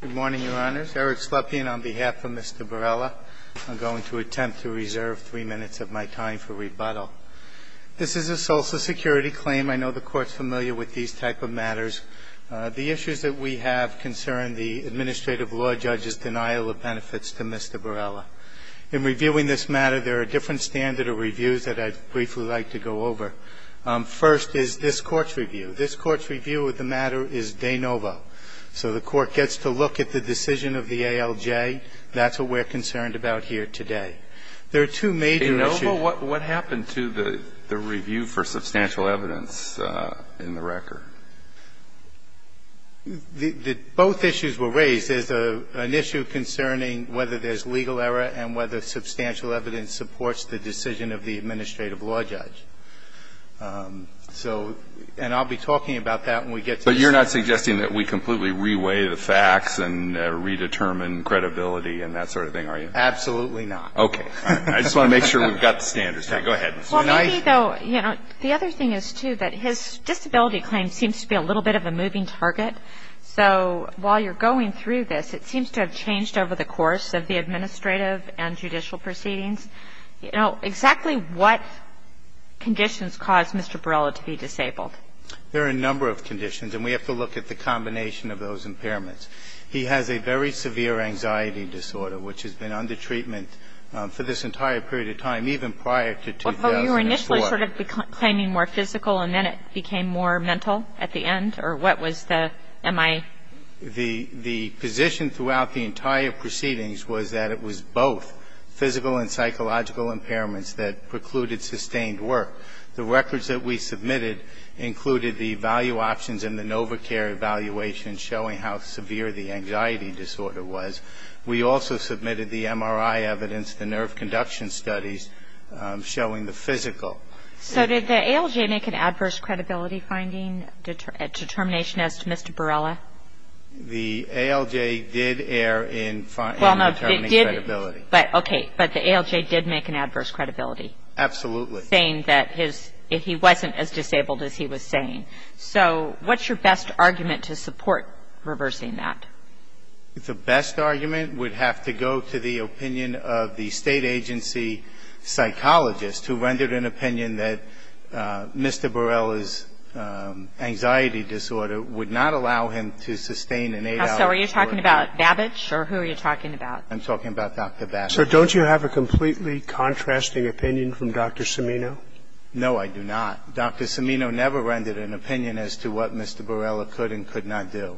Good morning, Your Honors. Eric Slepian on behalf of Mr. Barela. I'm going to attempt to reserve three minutes of my time for rebuttal. This is a Social Security claim. I know the Court's familiar with these type of matters. The issues that we have concern the administrative law judge's denial of benefits to Mr. Barela. In reviewing this matter, there are different standard of reviews that I'd briefly like to go over. First is this Court's review. This Court's review of the matter is de novo. So the Court gets to look at the decision of the ALJ. That's what we're concerned about here today. There are two major issues. Alito What happened to the review for substantial evidence in the record? Michael Astrue Both issues were raised. There's an issue concerning whether there's legal error and whether substantial evidence supports the decision of the administrative law judge. So, and I'll be talking about that when we get to this. Breyer But you're not suggesting that we completely reweigh the facts and redetermine credibility and that sort of thing, are you? Michael Astrue Absolutely not. Breyer Okay. I just want to make sure we've got the standards. Go ahead. Kagan Well, maybe, though, you know, the other thing is, too, that his disability claim seems to be a little bit of a moving target. So while you're going through this, it seems to have changed over the course of the administrative and judicial proceedings. You know, exactly what conditions caused Mr. Barilla to be disabled? Michael Astrue There are a number of conditions, and we have to look at the combination of those impairments. He has a very severe anxiety disorder, which has been under treatment for this entire period of time, even prior to 2004. Kagan Well, you were initially sort of claiming more physical, and then it became more mental at the end? Or what was the MI? Michael Astrue The position throughout the entire proceedings was that it was both physical and psychological impairments that precluded sustained work. The records that we submitted included the value options and the NovaCare evaluation showing how severe the anxiety disorder was. We also submitted the MRI evidence, the nerve conduction studies, showing the physical. Kagan So did the ALJ make an adverse credibility finding determination as to Mr. Barilla? Michael Astrue The ALJ did err in determining credibility. Kagan Okay. But the ALJ did make an adverse credibility? Michael Astrue Absolutely. Kagan Saying that his he wasn't as disabled as he was saying. So what's your best argument to support reversing that? Michael Astrue The best argument would have to go to the opinion of the State Agency psychologist, who rendered an opinion that Mr. Barilla's anxiety disorder would not allow him to sustain an ALJ. Kagan So are you talking about Babbage, or who are you talking about? Michael Astrue I'm talking about Dr. Babbage. Roberts So don't you have a completely contrasting opinion from Dr. Cimino? Michael Astrue No, I do not. Dr. Cimino never rendered an opinion as to what Mr. Barilla could and could not do.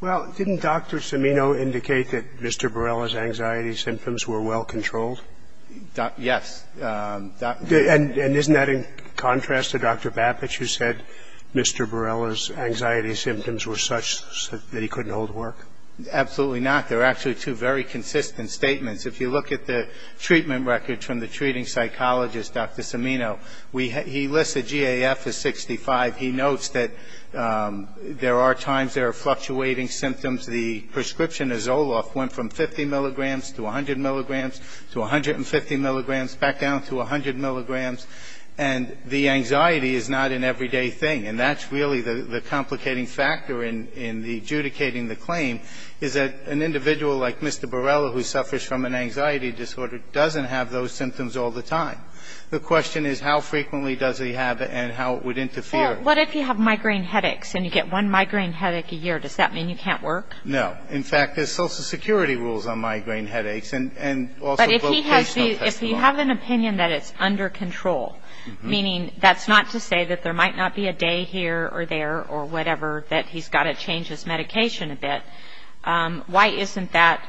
Roberts Well, didn't Dr. Cimino indicate that Mr. Barilla's anxiety symptoms were well controlled? Michael Astrue Yes. Dr. Cimino And isn't that in contrast to Dr. Babbage, who said Mr. Barilla's anxiety symptoms were such that he couldn't hold work? Michael Astrue Absolutely not. They're actually two very consistent statements. If you look at the treatment records from the treating psychologist, Dr. Cimino, he lists the GAF as 65. He notes that there are times there are fluctuating symptoms. The prescription of Zoloft went from 50 milligrams to 100 milligrams to 150 milligrams, back down to 100 milligrams. And the anxiety is not an everyday thing. And that's really the complicating factor in adjudicating the claim, is that an individual like Mr. Barilla, who suffers from an anxiety disorder, doesn't have those symptoms all the time. The question is how frequently does he have it and how it would interfere. Dr. Cimino What if you have migraine headaches and you get one migraine headache a year? Does that mean you can't work? Michael Astrue No. In fact, there's social security rules on migraine headaches. Dr. Cimino But if you have an opinion that it's under control, meaning that's not to say that there might not be a day here or there or whatever, that he's got to change his medication a bit, why isn't that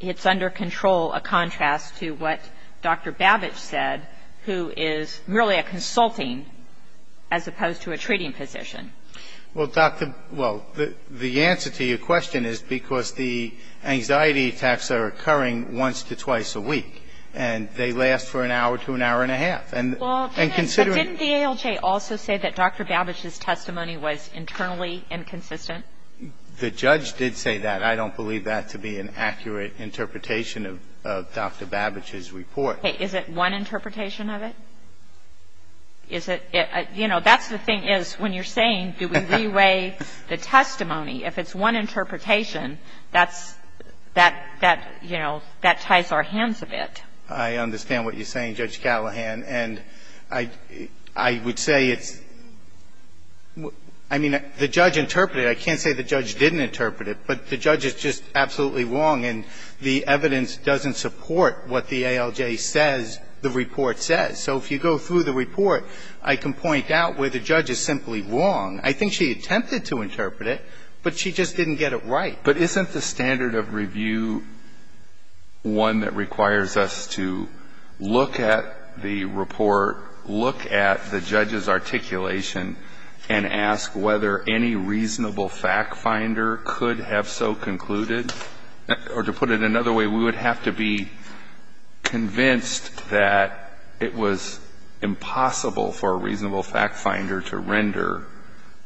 it's under control a contrast to what Dr. Babbage said, who is really a consulting as opposed to a treating physician? Michael Astrue Well, doctor, well, the answer to your question is because the anxiety attacks are occurring once to twice a week. And they last for an hour to an hour and a half. And considering Dr. Barilla But didn't the ALJ also say that Dr. Babbage's testimony was internally inconsistent? Michael Astrue The judge did say that. I don't believe that to be an accurate interpretation of Dr. Babbage's report. Kagan Is it one interpretation of it? Is it you know, that's the thing is when you're saying do we re-weigh the testimony, if it's one interpretation, that's that, you know, that ties our hands a bit. Michael Astrue I understand what you're saying, Judge Callahan. And I would say it's I mean, the judge interpreted it. I can't say the judge didn't interpret it. But the judge is just absolutely wrong. And the evidence doesn't support what the ALJ says the report says. So if you go through the report, I can point out where the judge is simply wrong. I think she attempted to interpret it, but she just didn't get it right. Alito But isn't the standard of review one that requires us to look at the report, look at the judge's articulation, and ask whether any reasonable factfinder could have so concluded? Or to put it another way, we would have to be convinced that it was impossible for a reasonable factfinder to render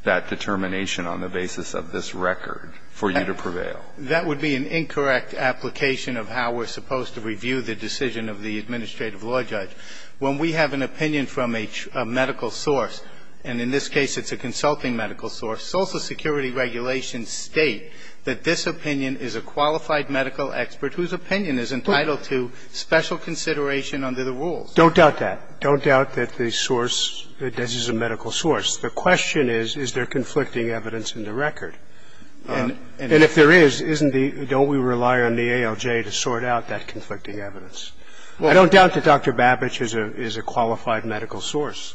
that determination on the basis of this record for you to prevail. Michael Astrue That would be an incorrect application of how we're supposed to review the decision of the administrative law judge. When we have an opinion from a medical source, and in this case it's a consulting medical source, Social Security regulations state that this opinion is a qualified medical expert whose opinion is entitled to special consideration under the rules. Scalia Don't doubt that. Don't doubt that the source is a medical source. The question is, is there conflicting evidence in the record? And if there is, isn't the don't we rely on the ALJ to sort out that conflicting evidence? I don't doubt that Dr. Babich is a qualified medical source.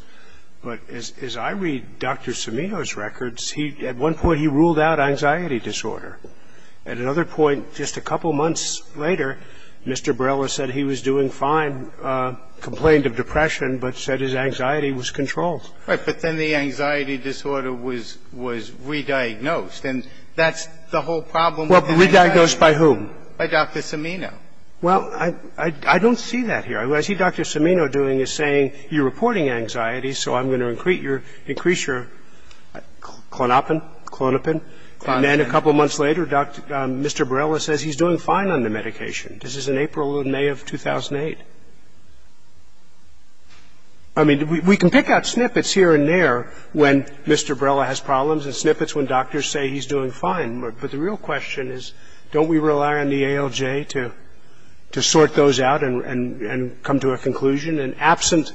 But as I read Dr. Cimino's records, at one point he ruled out anxiety disorder. At another point, just a couple months later, Mr. Barella said he was doing fine, complained of depression, but said his anxiety was controlled. Michael Astrue Right. But then the anxiety disorder was rediagnosed. And that's the whole problem with the anxiety disorder. Scalia Rediagnosed by whom? Michael Astrue By Dr. Cimino. Well, I don't see that here. What I see Dr. Cimino doing is saying you're reporting anxiety, so I'm going to increase your clonopin, clonopin. And then a couple months later, Mr. Barella says he's doing fine on the medication. This is in April and May of 2008. I mean, we can pick out snippets here and there when Mr. Barella has problems and snippets when doctors say he's doing fine. But the real question is, don't we rely on the ALJ to sort those out and come to a conclusion? And absent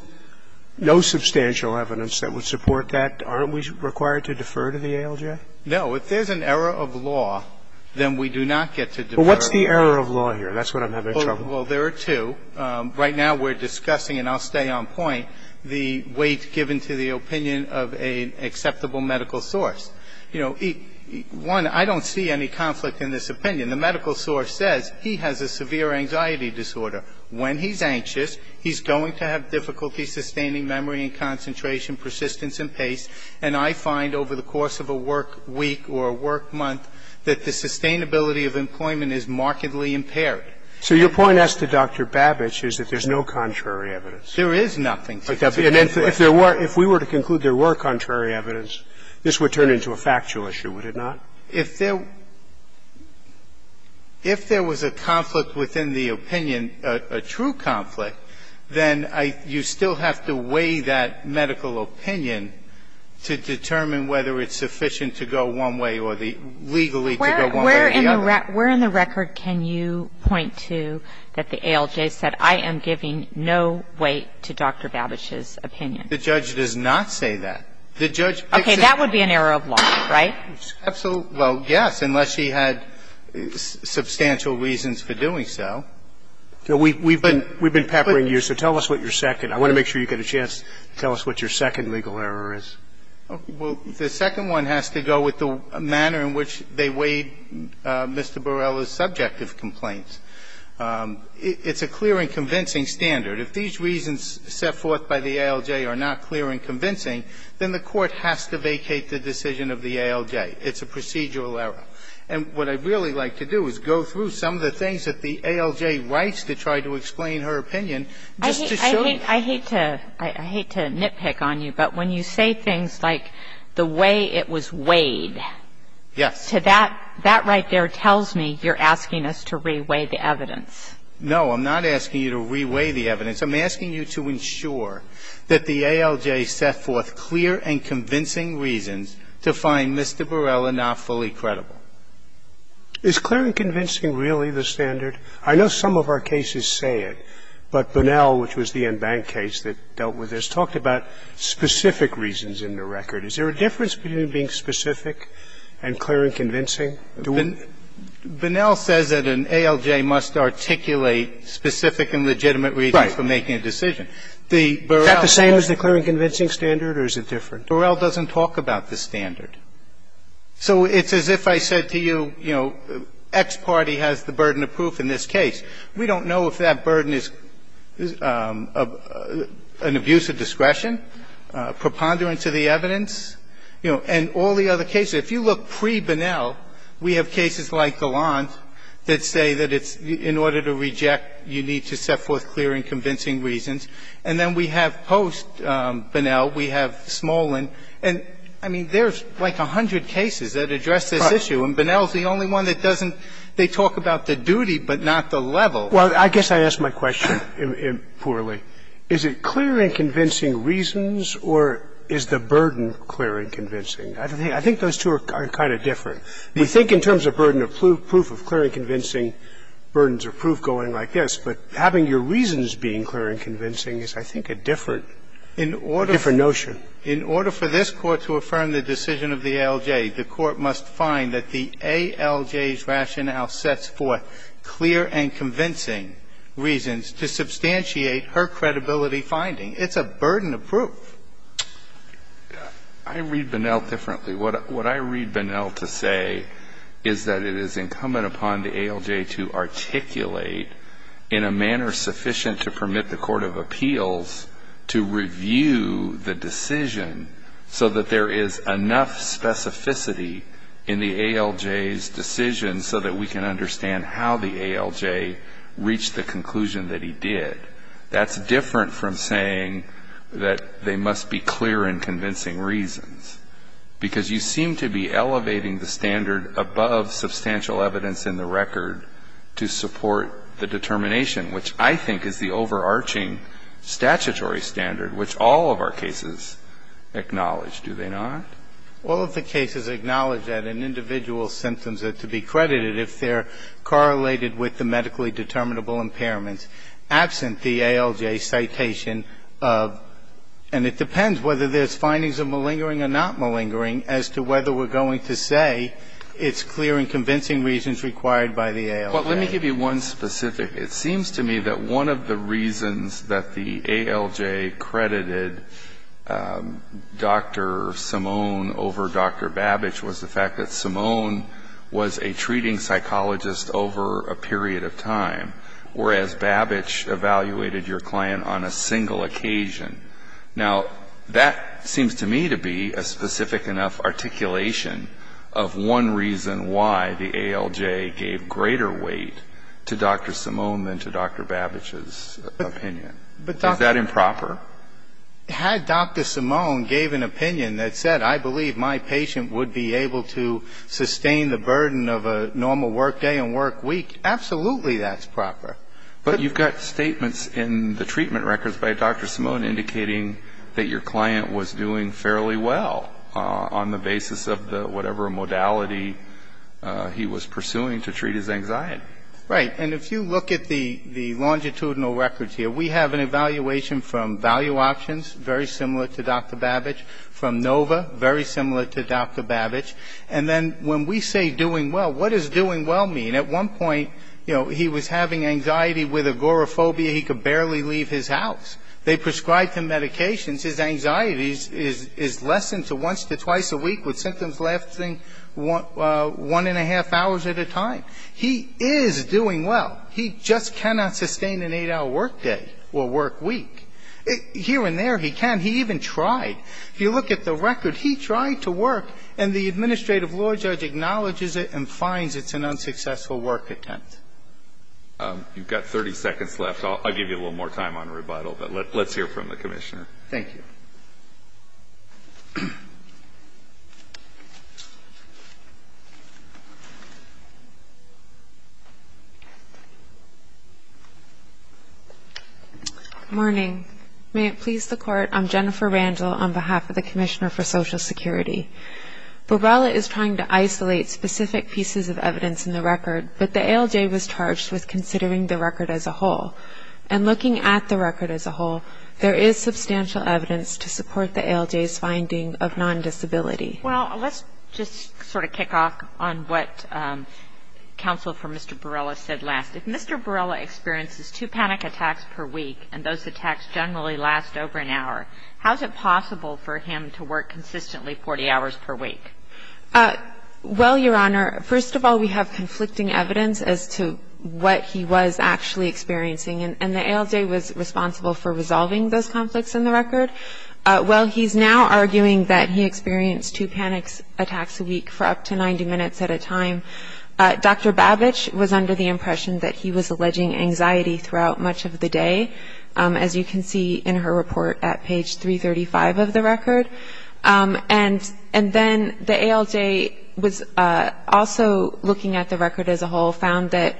no substantial evidence that would support that, aren't we required to defer to the ALJ? Michael Astrue No. If there's an error of law, then we do not get to defer. Scalia Well, what's the error of law here? That's what I'm having trouble with. Michael Astrue Well, there are two. Right now we're discussing, and I'll stay on point, the weight given to the opinion of an acceptable medical source. You know, one, I don't see any conflict in this opinion. The medical source says he has a severe anxiety disorder. When he's anxious, he's going to have difficulty sustaining memory and concentration, persistence and pace. And I find over the course of a work week or a work month that the sustainability of employment is markedly impaired. Scalia So your point as to Dr. Babich is that there's no contrary evidence. Michael Astrue There is nothing contrary. If we were to conclude there were contrary evidence, this would turn into a factual issue, would it not? Scalia If there was a conflict within the opinion, a true conflict, then you still have to weigh that medical opinion to determine whether it's sufficient to go one way or legally to go one way or the other. Kagan Where in the record can you point to that the ALJ said, I am giving no weight to Dr. Babich's opinion? Michael Astrue The judge does not say that. The judge picks it. Kagan Okay. That would be an error of law, right? Michael Astrue Absolutely. Well, yes, unless she had substantial reasons for doing so. Roberts We've been peppering you, so tell us what your second. I want to make sure you get a chance to tell us what your second legal error is. Michael Astrue Well, the second one has to go with the manner in which they weighed Mr. Borrella's subjective complaints. It's a clear and convincing standard. If these reasons set forth by the ALJ are not clear and convincing, then the court has to vacate the decision of the ALJ. It's a procedural error. And what I'd really like to do is go through some of the things that the ALJ writes to try to explain her opinion just to show you. Kagan I hate to nitpick on you, but when you say things like the way it was weighed to that, that right there tells me you're asking us to re-weigh the evidence. Michael Astrue No, I'm not asking you to re-weigh the evidence. I'm asking you to ensure that the ALJ set forth clear and convincing reasons to find Mr. Borrella not fully credible. Scalia Is clear and convincing really the standard? I know some of our cases say it, but Bunnell, which was the Enbank case that dealt with this, talked about specific reasons in the record. Is there a difference between being specific and clear and convincing? Bunnell says that an ALJ must articulate specific and legitimate reasons for making a decision. The Borrella doesn't talk about the standard. So it's as if I said to you, you know, X party has the burden of proof in this case. We don't know if that burden is an abuse of discretion, preponderance of the evidence, you know, and all the other cases. If you look pre-Bunnell, we have cases like Gallant that say that it's in order to reject, you need to set forth clear and convincing reasons, and then we have post-Bunnell. We have Smolin. And, I mean, there's like a hundred cases that address this issue. And Bunnell is the only one that doesn't. They talk about the duty, but not the level. Scalia Well, I guess I asked my question poorly. Is it clear and convincing reasons, or is the burden clear and convincing? I think those two are kind of different. You think in terms of burden of proof, proof of clear and convincing burdens or proof going like this, but having your reasons being clear and convincing is, I think, a different notion. Bunnell In order for this Court to affirm the decision of the ALJ, the Court must find that the ALJ's rationale sets forth clear and convincing reasons to substantiate her credibility finding. It's a burden of proof. Alito I read Bunnell differently. What I read Bunnell to say is that it is incumbent upon the ALJ to articulate in a manner sufficient to permit the court of appeals to review the decision so that there is enough specificity in the ALJ's decision so that we can understand how the ALJ reached the conclusion that he did. That's different from saying that they must be clear and convincing reasons, because you seem to be elevating the standard above substantial evidence in the record to support the determination, which I think is the overarching statutory standard which all of our cases acknowledge, do they not? Bunnell All of the cases acknowledge that an individual's symptoms are to be credited if they're correlated with the medically determinable impairments, absent the ALJ citation of, and it depends whether there's findings of malingering or not malingering, as to whether we're going to say it's clear and convincing reasons required by the ALJ. Alito Well, let me give you one specific. It seems to me that one of the reasons that the ALJ credited Dr. Simone over Dr. Babich was the fact that Simone was a treating psychologist over a period of time, whereas Babich evaluated your client on a single occasion. Now, that seems to me to be a specific enough articulation of one reason why the ALJ gave greater weight to Dr. Simone than to Dr. Babich's opinion. Is that improper? Bunnell Had Dr. Simone gave an opinion that said, I believe my patient would be able to sustain the burden of a normal work day and work week, absolutely that's proper. Alito But you've got statements in the treatment records by Dr. Simone indicating that your client was doing fairly well on the basis of whatever modality he was pursuing to treat his anxiety. Bunnell Right. And if you look at the longitudinal records here, we have an evaluation from Value Options, very similar to Dr. Babich, from NOVA, very similar to Dr. Babich. And then when we say doing well, what does doing well mean? At one point, you know, he was having anxiety with agoraphobia. He could barely leave his house. They prescribed him medications. His anxiety is lessened to once to twice a week with symptoms lasting one and a half hours at a time. He is doing well. He just cannot sustain an 8-hour work day or work week. Here and there, he can. He even tried. If you look at the record, he tried to work, and the administrative law judge acknowledges it and finds it's an unsuccessful work attempt. Alito You've got 30 seconds left. I'll give you a little more time on rebuttal, but let's hear from the Commissioner. Thank you. Good morning. May it please the Court, I'm Jennifer Randall on behalf of the Commissioner for Social Security. Borrella is trying to isolate specific pieces of evidence in the record, but the ALJ was charged with considering the record as a whole. And looking at the record as a whole, there is substantial evidence to support the ALJ's finding of non-disability. Well, let's just sort of kick off on what counsel for Mr. Borrella said last. If Mr. Borrella experiences two panic attacks per week, and those attacks generally last over an hour, how is it possible for him to work consistently 40 hours per week? Well, Your Honor, first of all, we have conflicting evidence as to what he was actually experiencing. And the ALJ was responsible for resolving those conflicts in the record. Well, he's now arguing that he experienced two panic attacks a week for up to 90 minutes at a time. Dr. Babich was under the impression that he was alleging anxiety throughout much of the day, as you can see in her report at page 335 of the record. And then the ALJ was also looking at the record as a whole, found that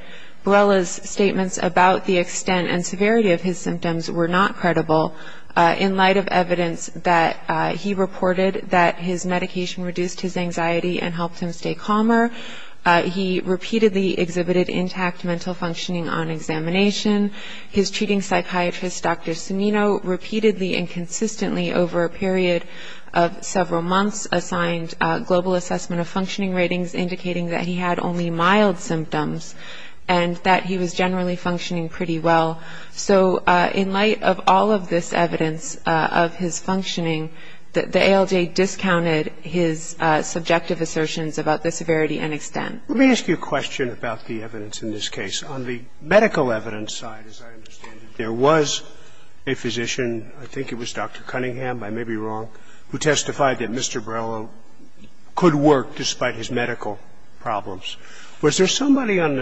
Borrella's statements about the extent and severity of his symptoms were not credible in light of evidence that he reported that his medication reduced his anxiety and helped him stay calmer. He repeatedly exhibited intact mental functioning on examination. His treating psychiatrist, Dr. Sunino, repeatedly and consistently over a period of several months, assigned global assessment of functioning ratings indicating that he had only mild symptoms and that he was generally functioning pretty well. So in light of all of this evidence of his functioning, the ALJ discounted his subjective assertions about the severity and extent. Let me ask you a question about the evidence in this case. On the medical evidence side, as I understand it, there was a physician, I think it was Dr. Cunningham, I may be wrong, who testified that Mr. Borrella could work despite his medical problems. Was there somebody on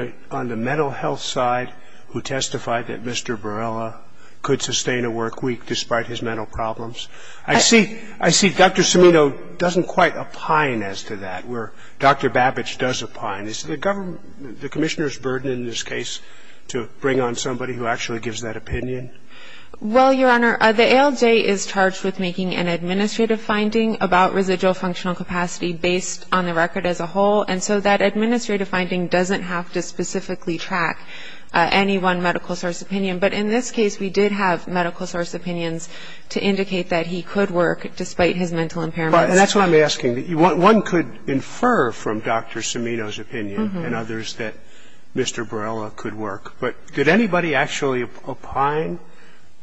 the mental health side who testified that Mr. Borrella could sustain a work week despite his mental problems? I see Dr. Sunino doesn't quite opine as to that, where Dr. Babich does opine. Is the government, the Commissioner's burden in this case to bring on somebody who actually gives that opinion? Well, Your Honor, the ALJ is charged with making an administrative finding about residual functional capacity based on the record as a whole. And so that administrative finding doesn't have to specifically track any one medical source opinion. But in this case, we did have medical source opinions to indicate that he could work despite his mental impairments. And that's what I'm asking. One could infer from Dr. Sunino's opinion and others that Mr. Borrella could work. But did anybody actually opine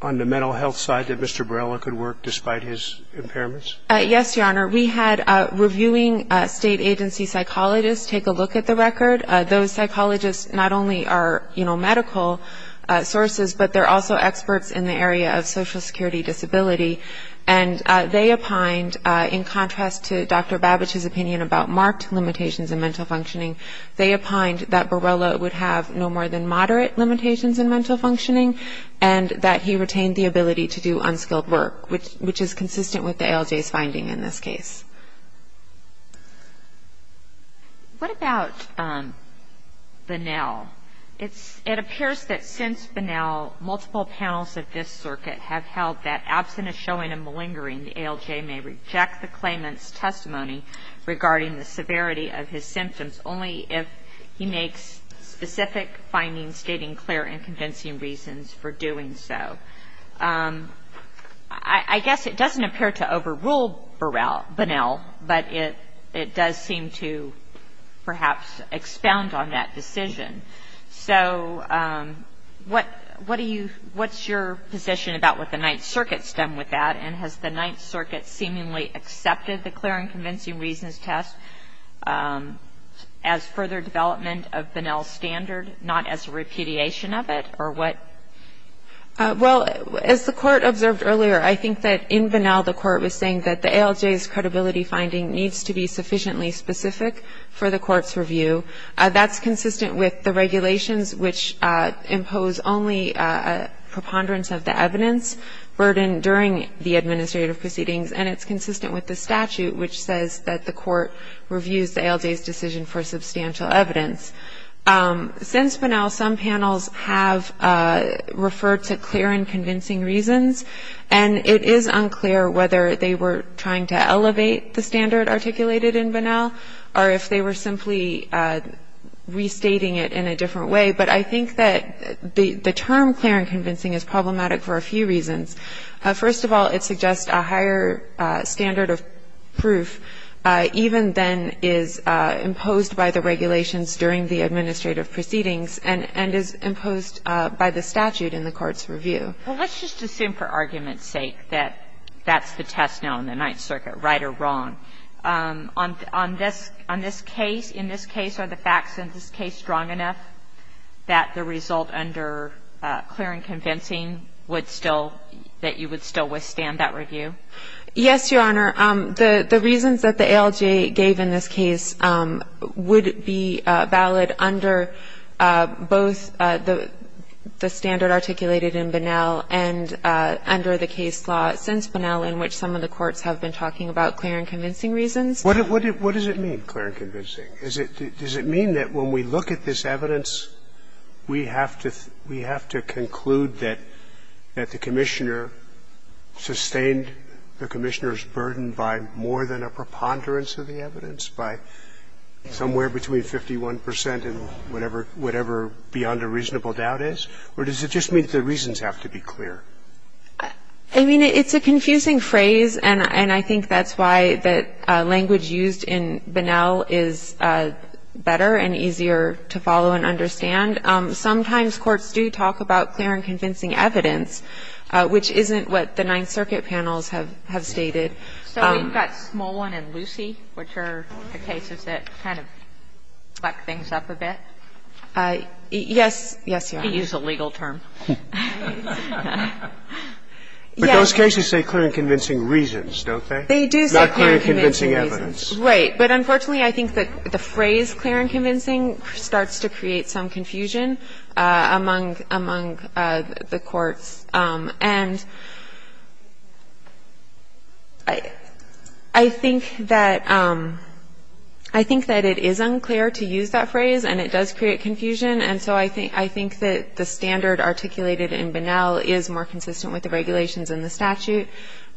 on the mental health side that Mr. Borrella could work despite his impairments? Yes, Your Honor. We had reviewing State agency psychologists take a look at the record. Those psychologists not only are, you know, medical sources, but they're also experts in the area of Social Security disability. And they opined, in contrast to Dr. Babich's opinion about marked limitations in mental functioning, they opined that Borrella would have no more than moderate limitations in mental functioning and that he retained the ability to do unskilled work, which is consistent with the ALJ's finding in this case. What about Bonnell? It appears that since Bonnell, multiple panels of this circuit have held that absent a showing of malingering, the ALJ may reject the claimant's testimony regarding the severity of his symptoms only if he makes specific findings stating clear and convincing reasons for doing so. I guess it doesn't appear to overrule Bonnell, but it does seem to perhaps expound on that decision. So what do you – what's your position about what the Ninth Circuit's done with that, and has the Ninth Circuit seemingly accepted the clear and convincing reasons test as further development of Bonnell's standard, not as a repudiation of it, or what? Well, as the Court observed earlier, I think that in Bonnell the Court was saying that the ALJ's credibility finding needs to be sufficiently specific for the Court's review. That's consistent with the regulations, which impose only a preponderance of the evidence burden during the administrative proceedings, and it's consistent with the statute, which says that the Court reviews the ALJ's decision for substantial evidence. Since Bonnell, some panels have referred to clear and convincing reasons, and it is unclear whether they were trying to elevate the standard articulated in Bonnell or if they were simply restating it in a different way, but I think that the term clear and convincing is problematic for a few reasons. First of all, it suggests a higher standard of proof even than is imposed by the regulations during the administrative proceedings and is imposed by the statute in the Court's review. Well, let's just assume for argument's sake that that's the test now in the Ninth Circuit, right or wrong. On this case, in this case, are the facts in this case strong enough that the result under clear and convincing would still, that you would still withstand that review? Yes, Your Honor. The reasons that the ALJ gave in this case would be valid under both the standard articulated in Bonnell and under the case law since Bonnell, in which some of the What does it mean, clear and convincing? Does it mean that when we look at this evidence, we have to conclude that the commissioner sustained the commissioner's burden by more than a preponderance of the evidence, by somewhere between 51 percent and whatever beyond a reasonable doubt is? Or does it just mean the reasons have to be clear? I mean, it's a confusing phrase, and I think that's why the language used in Bonnell is better and easier to follow and understand. Sometimes courts do talk about clear and convincing evidence, which isn't what the Ninth Circuit panels have stated. So we've got Smolin and Lucie, which are the cases that kind of back things up a bit? Yes, Your Honor. He used a legal term. But those cases say clear and convincing reasons, don't they? They do say clear and convincing reasons. Not clear and convincing evidence. Right. But unfortunately, I think that the phrase clear and convincing starts to create some confusion among the courts. And I think that it is unclear to use that phrase, and it does create confusion, and so I think that the standard articulated in Bonnell is more consistent with the regulations in the statute.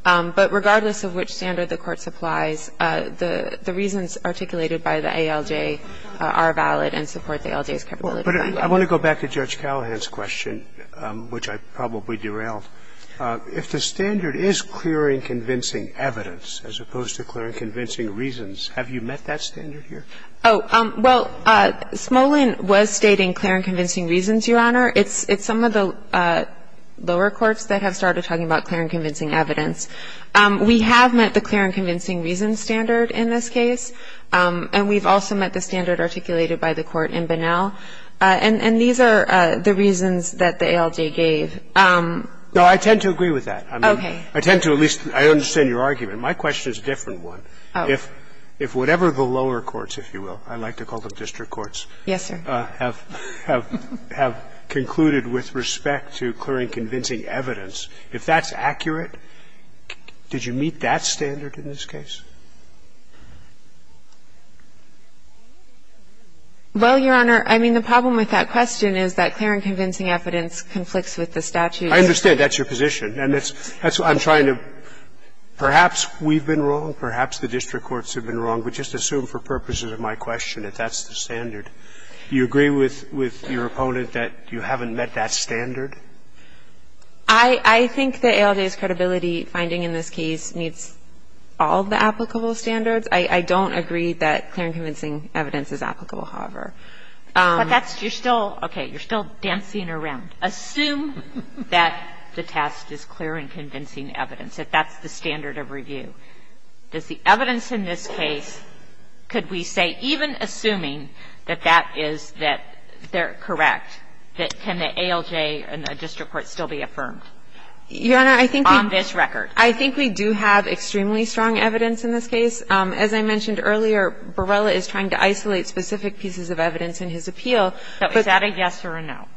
But regardless of which standard the court supplies, the reasons articulated by the ALJ are valid and support the ALJ's capability finding. But I want to go back to Judge Callahan's question, which I probably derailed. If the standard is clear and convincing evidence as opposed to clear and convincing reasons, have you met that standard here? Oh, well, Smolin was stating clear and convincing reasons, Your Honor. It's some of the lower courts that have started talking about clear and convincing evidence. We have met the clear and convincing reasons standard in this case, and we've also met the standard articulated by the court in Bonnell. And these are the reasons that the ALJ gave. No, I tend to agree with that. Okay. I tend to at least – I understand your argument. My question is a different one. Oh. If whatever the lower courts, if you will, I like to call them district courts. Yes, sir. Have concluded with respect to clear and convincing evidence, if that's accurate, did you meet that standard in this case? Well, Your Honor, I mean, the problem with that question is that clear and convincing evidence conflicts with the statute. I understand. That's your position. And that's what I'm trying to – perhaps we've been wrong, perhaps the district courts have been wrong, but just assume for purposes of my question that that's the standard. Do you agree with your opponent that you haven't met that standard? I think the ALJ's credibility finding in this case meets all the applicable standards. I don't agree that clear and convincing evidence is applicable, however. But that's – you're still – okay. You're still dancing around. Assume that the test is clear and convincing evidence, if that's the standard of review. Does the evidence in this case, could we say, even assuming that that is that they're correct, that can the ALJ and the district court still be affirmed on this record? Your Honor, I think we do have extremely strong evidence in this case. As I mentioned earlier, Borrella is trying to isolate specific pieces of evidence in his appeal. So is that a yes or a no?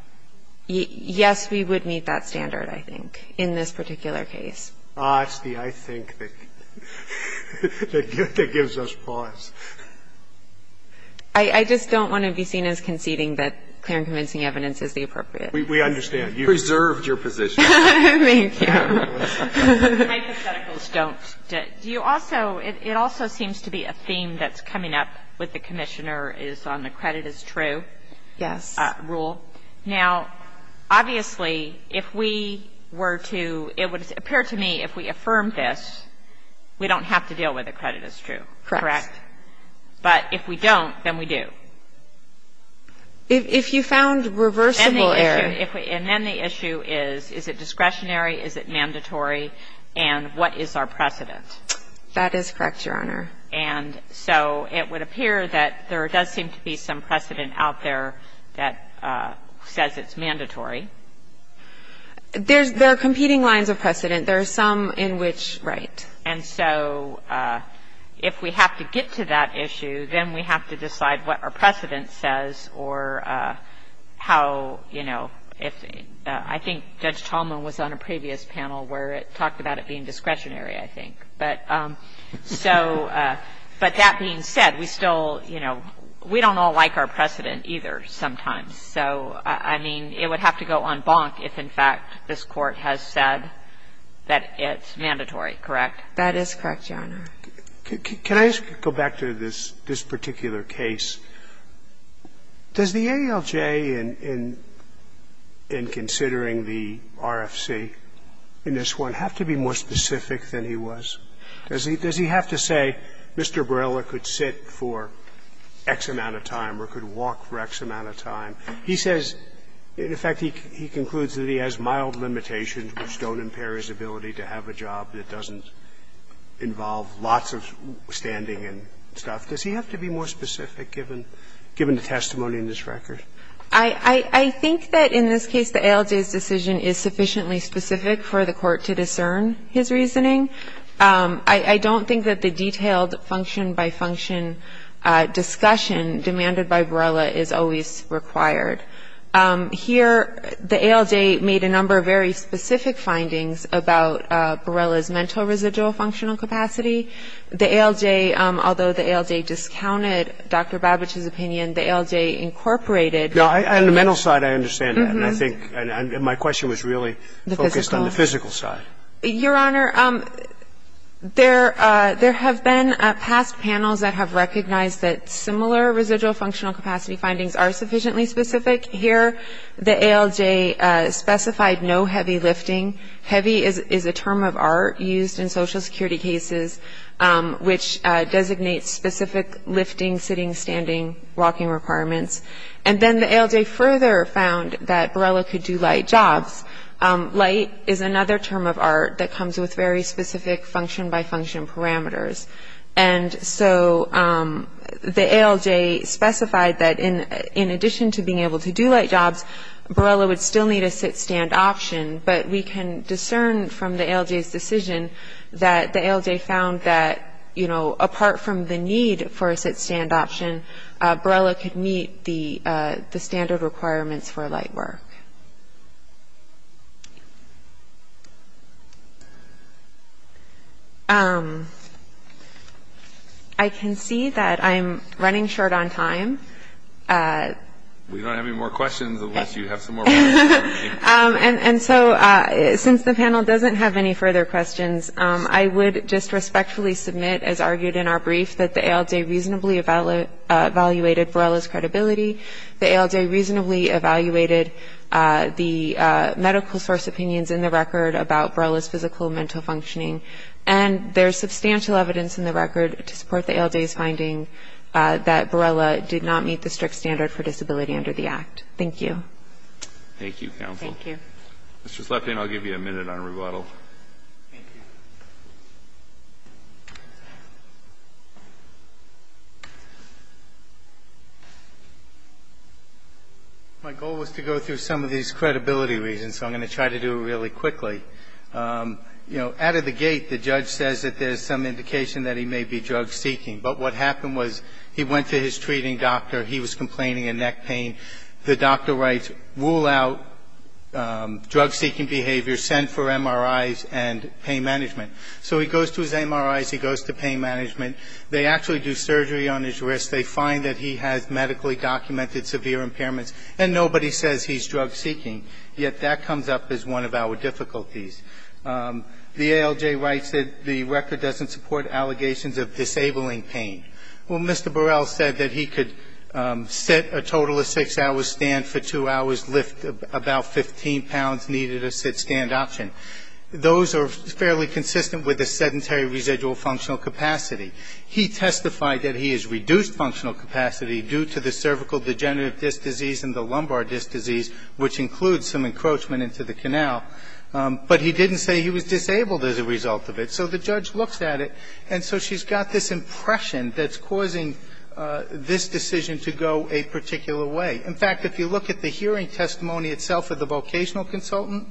Yes, we would meet that standard, I think, in this particular case. It's the I think that gives us pause. I just don't want to be seen as conceding that clear and convincing evidence is the appropriate. We understand. You've preserved your position. Thank you. My hypotheticals don't. Do you also – it also seems to be a theme that's coming up with the Commissioner is on the credit is true rule. Yes. Now, obviously, if we were to – it would appear to me if we affirmed this, we don't have to deal with the credit is true. Correct. But if we don't, then we do. If you found reversible error. And then the issue is, is it discretionary, is it mandatory, and what is our precedent? That is correct, Your Honor. And so it would appear that there does seem to be some precedent out there that says it's mandatory. There are competing lines of precedent. There are some in which, right. And so if we have to get to that issue, then we have to decide what our precedent says or how, you know, if – I think Judge Tallman was on a previous panel where it talked about it being discretionary, I think. But so – but that being said, we still, you know, we don't all like our precedent either sometimes. So, I mean, it would have to go en banc if, in fact, this Court has said that it's mandatory. Correct? That is correct, Your Honor. Can I go back to this particular case? Does the ALJ in considering the RFC in this one have to be more specific than he was in this case? Does he have to say Mr. Borrella could sit for X amount of time or could walk for X amount of time? He says, in effect, he concludes that he has mild limitations which don't impair his ability to have a job that doesn't involve lots of standing and stuff. Does he have to be more specific given the testimony in this record? I think that in this case the ALJ's decision is sufficiently specific for the Court to discern his reasoning. I don't think that the detailed function-by-function discussion demanded by Borrella is always required. Here, the ALJ made a number of very specific findings about Borrella's mental residual functional capacity. The ALJ, although the ALJ discounted Dr. Babich's opinion, the ALJ incorporated – No, on the mental side, I understand that. And I think – and my question was really focused on the physical side. Your Honor, there have been past panels that have recognized that similar residual functional capacity findings are sufficiently specific. Here, the ALJ specified no heavy lifting. Heavy is a term of art used in Social Security cases which designates specific lifting, sitting, standing, walking requirements. And then the ALJ further found that Borrella could do light jobs. Light is another term of art that comes with very specific function-by-function parameters. And so the ALJ specified that in addition to being able to do light jobs, Borrella would still need a sit-stand option. But we can discern from the ALJ's decision that the ALJ found that, you know, apart from the need for a sit-stand option, Borrella could meet the standard requirements for light work. I can see that I'm running short on time. We don't have any more questions unless you have some more questions. And so since the panel doesn't have any further questions, I would just respectfully submit, as argued in our brief, that the ALJ reasonably evaluated Borrella's credibility. The ALJ reasonably evaluated the medical source opinions in the record about Borrella's physical and mental functioning. And there's substantial evidence in the record to support the ALJ's finding that Borrella did not meet the strict standard for disability under the Act. Thank you. Thank you, counsel. Thank you. Mr. Slepin, I'll give you a minute on rebuttal. Thank you. My goal was to go through some of these credibility reasons, so I'm going to try to do it really quickly. You know, out of the gate, the judge says that there's some indication that he may be drug-seeking. But what happened was he went to his treating doctor. He was complaining of neck pain. The doctor writes, rule out drug-seeking behavior, send for MRIs and pain management. So he goes to his MRIs, he goes to pain management. They actually do surgery on his wrist. They find that he has medically documented severe impairments. And nobody says he's drug-seeking. Yet that comes up as one of our difficulties. The ALJ writes that the record doesn't support allegations of disabling pain. Well, Mr. Burrell said that he could sit a total of six hours, stand for two hours, lift about 15 pounds, needed a sit-stand option. Those are fairly consistent with a sedentary residual functional capacity. He testified that he has reduced functional capacity due to the cervical degenerative disc disease and the lumbar disc disease, which includes some encroachment into the canal. But he didn't say he was disabled as a result of it. So the judge looks at it. And so she's got this impression that's causing this decision to go a particular way. In fact, if you look at the hearing testimony itself of the vocational consultant,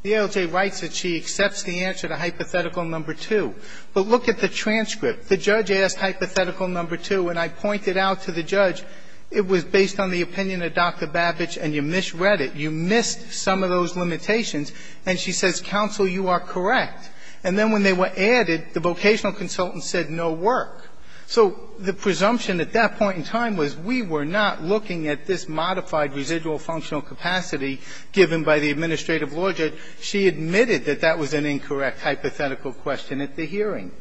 the ALJ writes that she accepts the answer to hypothetical number two. But look at the transcript. The judge asked hypothetical number two, and I pointed out to the judge, it was based on the opinion of Dr. Babich, and you misread it. You missed some of those limitations. And she says, counsel, you are correct. And then when they were added, the vocational consultant said no work. So the presumption at that point in time was we were not looking at this modified residual functional capacity given by the administrative law judge. She admitted that that was an incorrect hypothetical question at the hearing.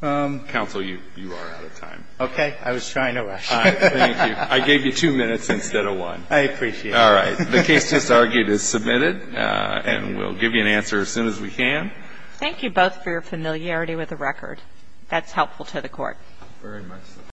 Alito, you are out of time. Okay. I was trying to rush. Thank you. I gave you two minutes instead of one. I appreciate it. All right. The case just argued is submitted, and we'll give you an answer as soon as we can. Thank you both for your familiarity with the record. That's helpful to the court. Very much so.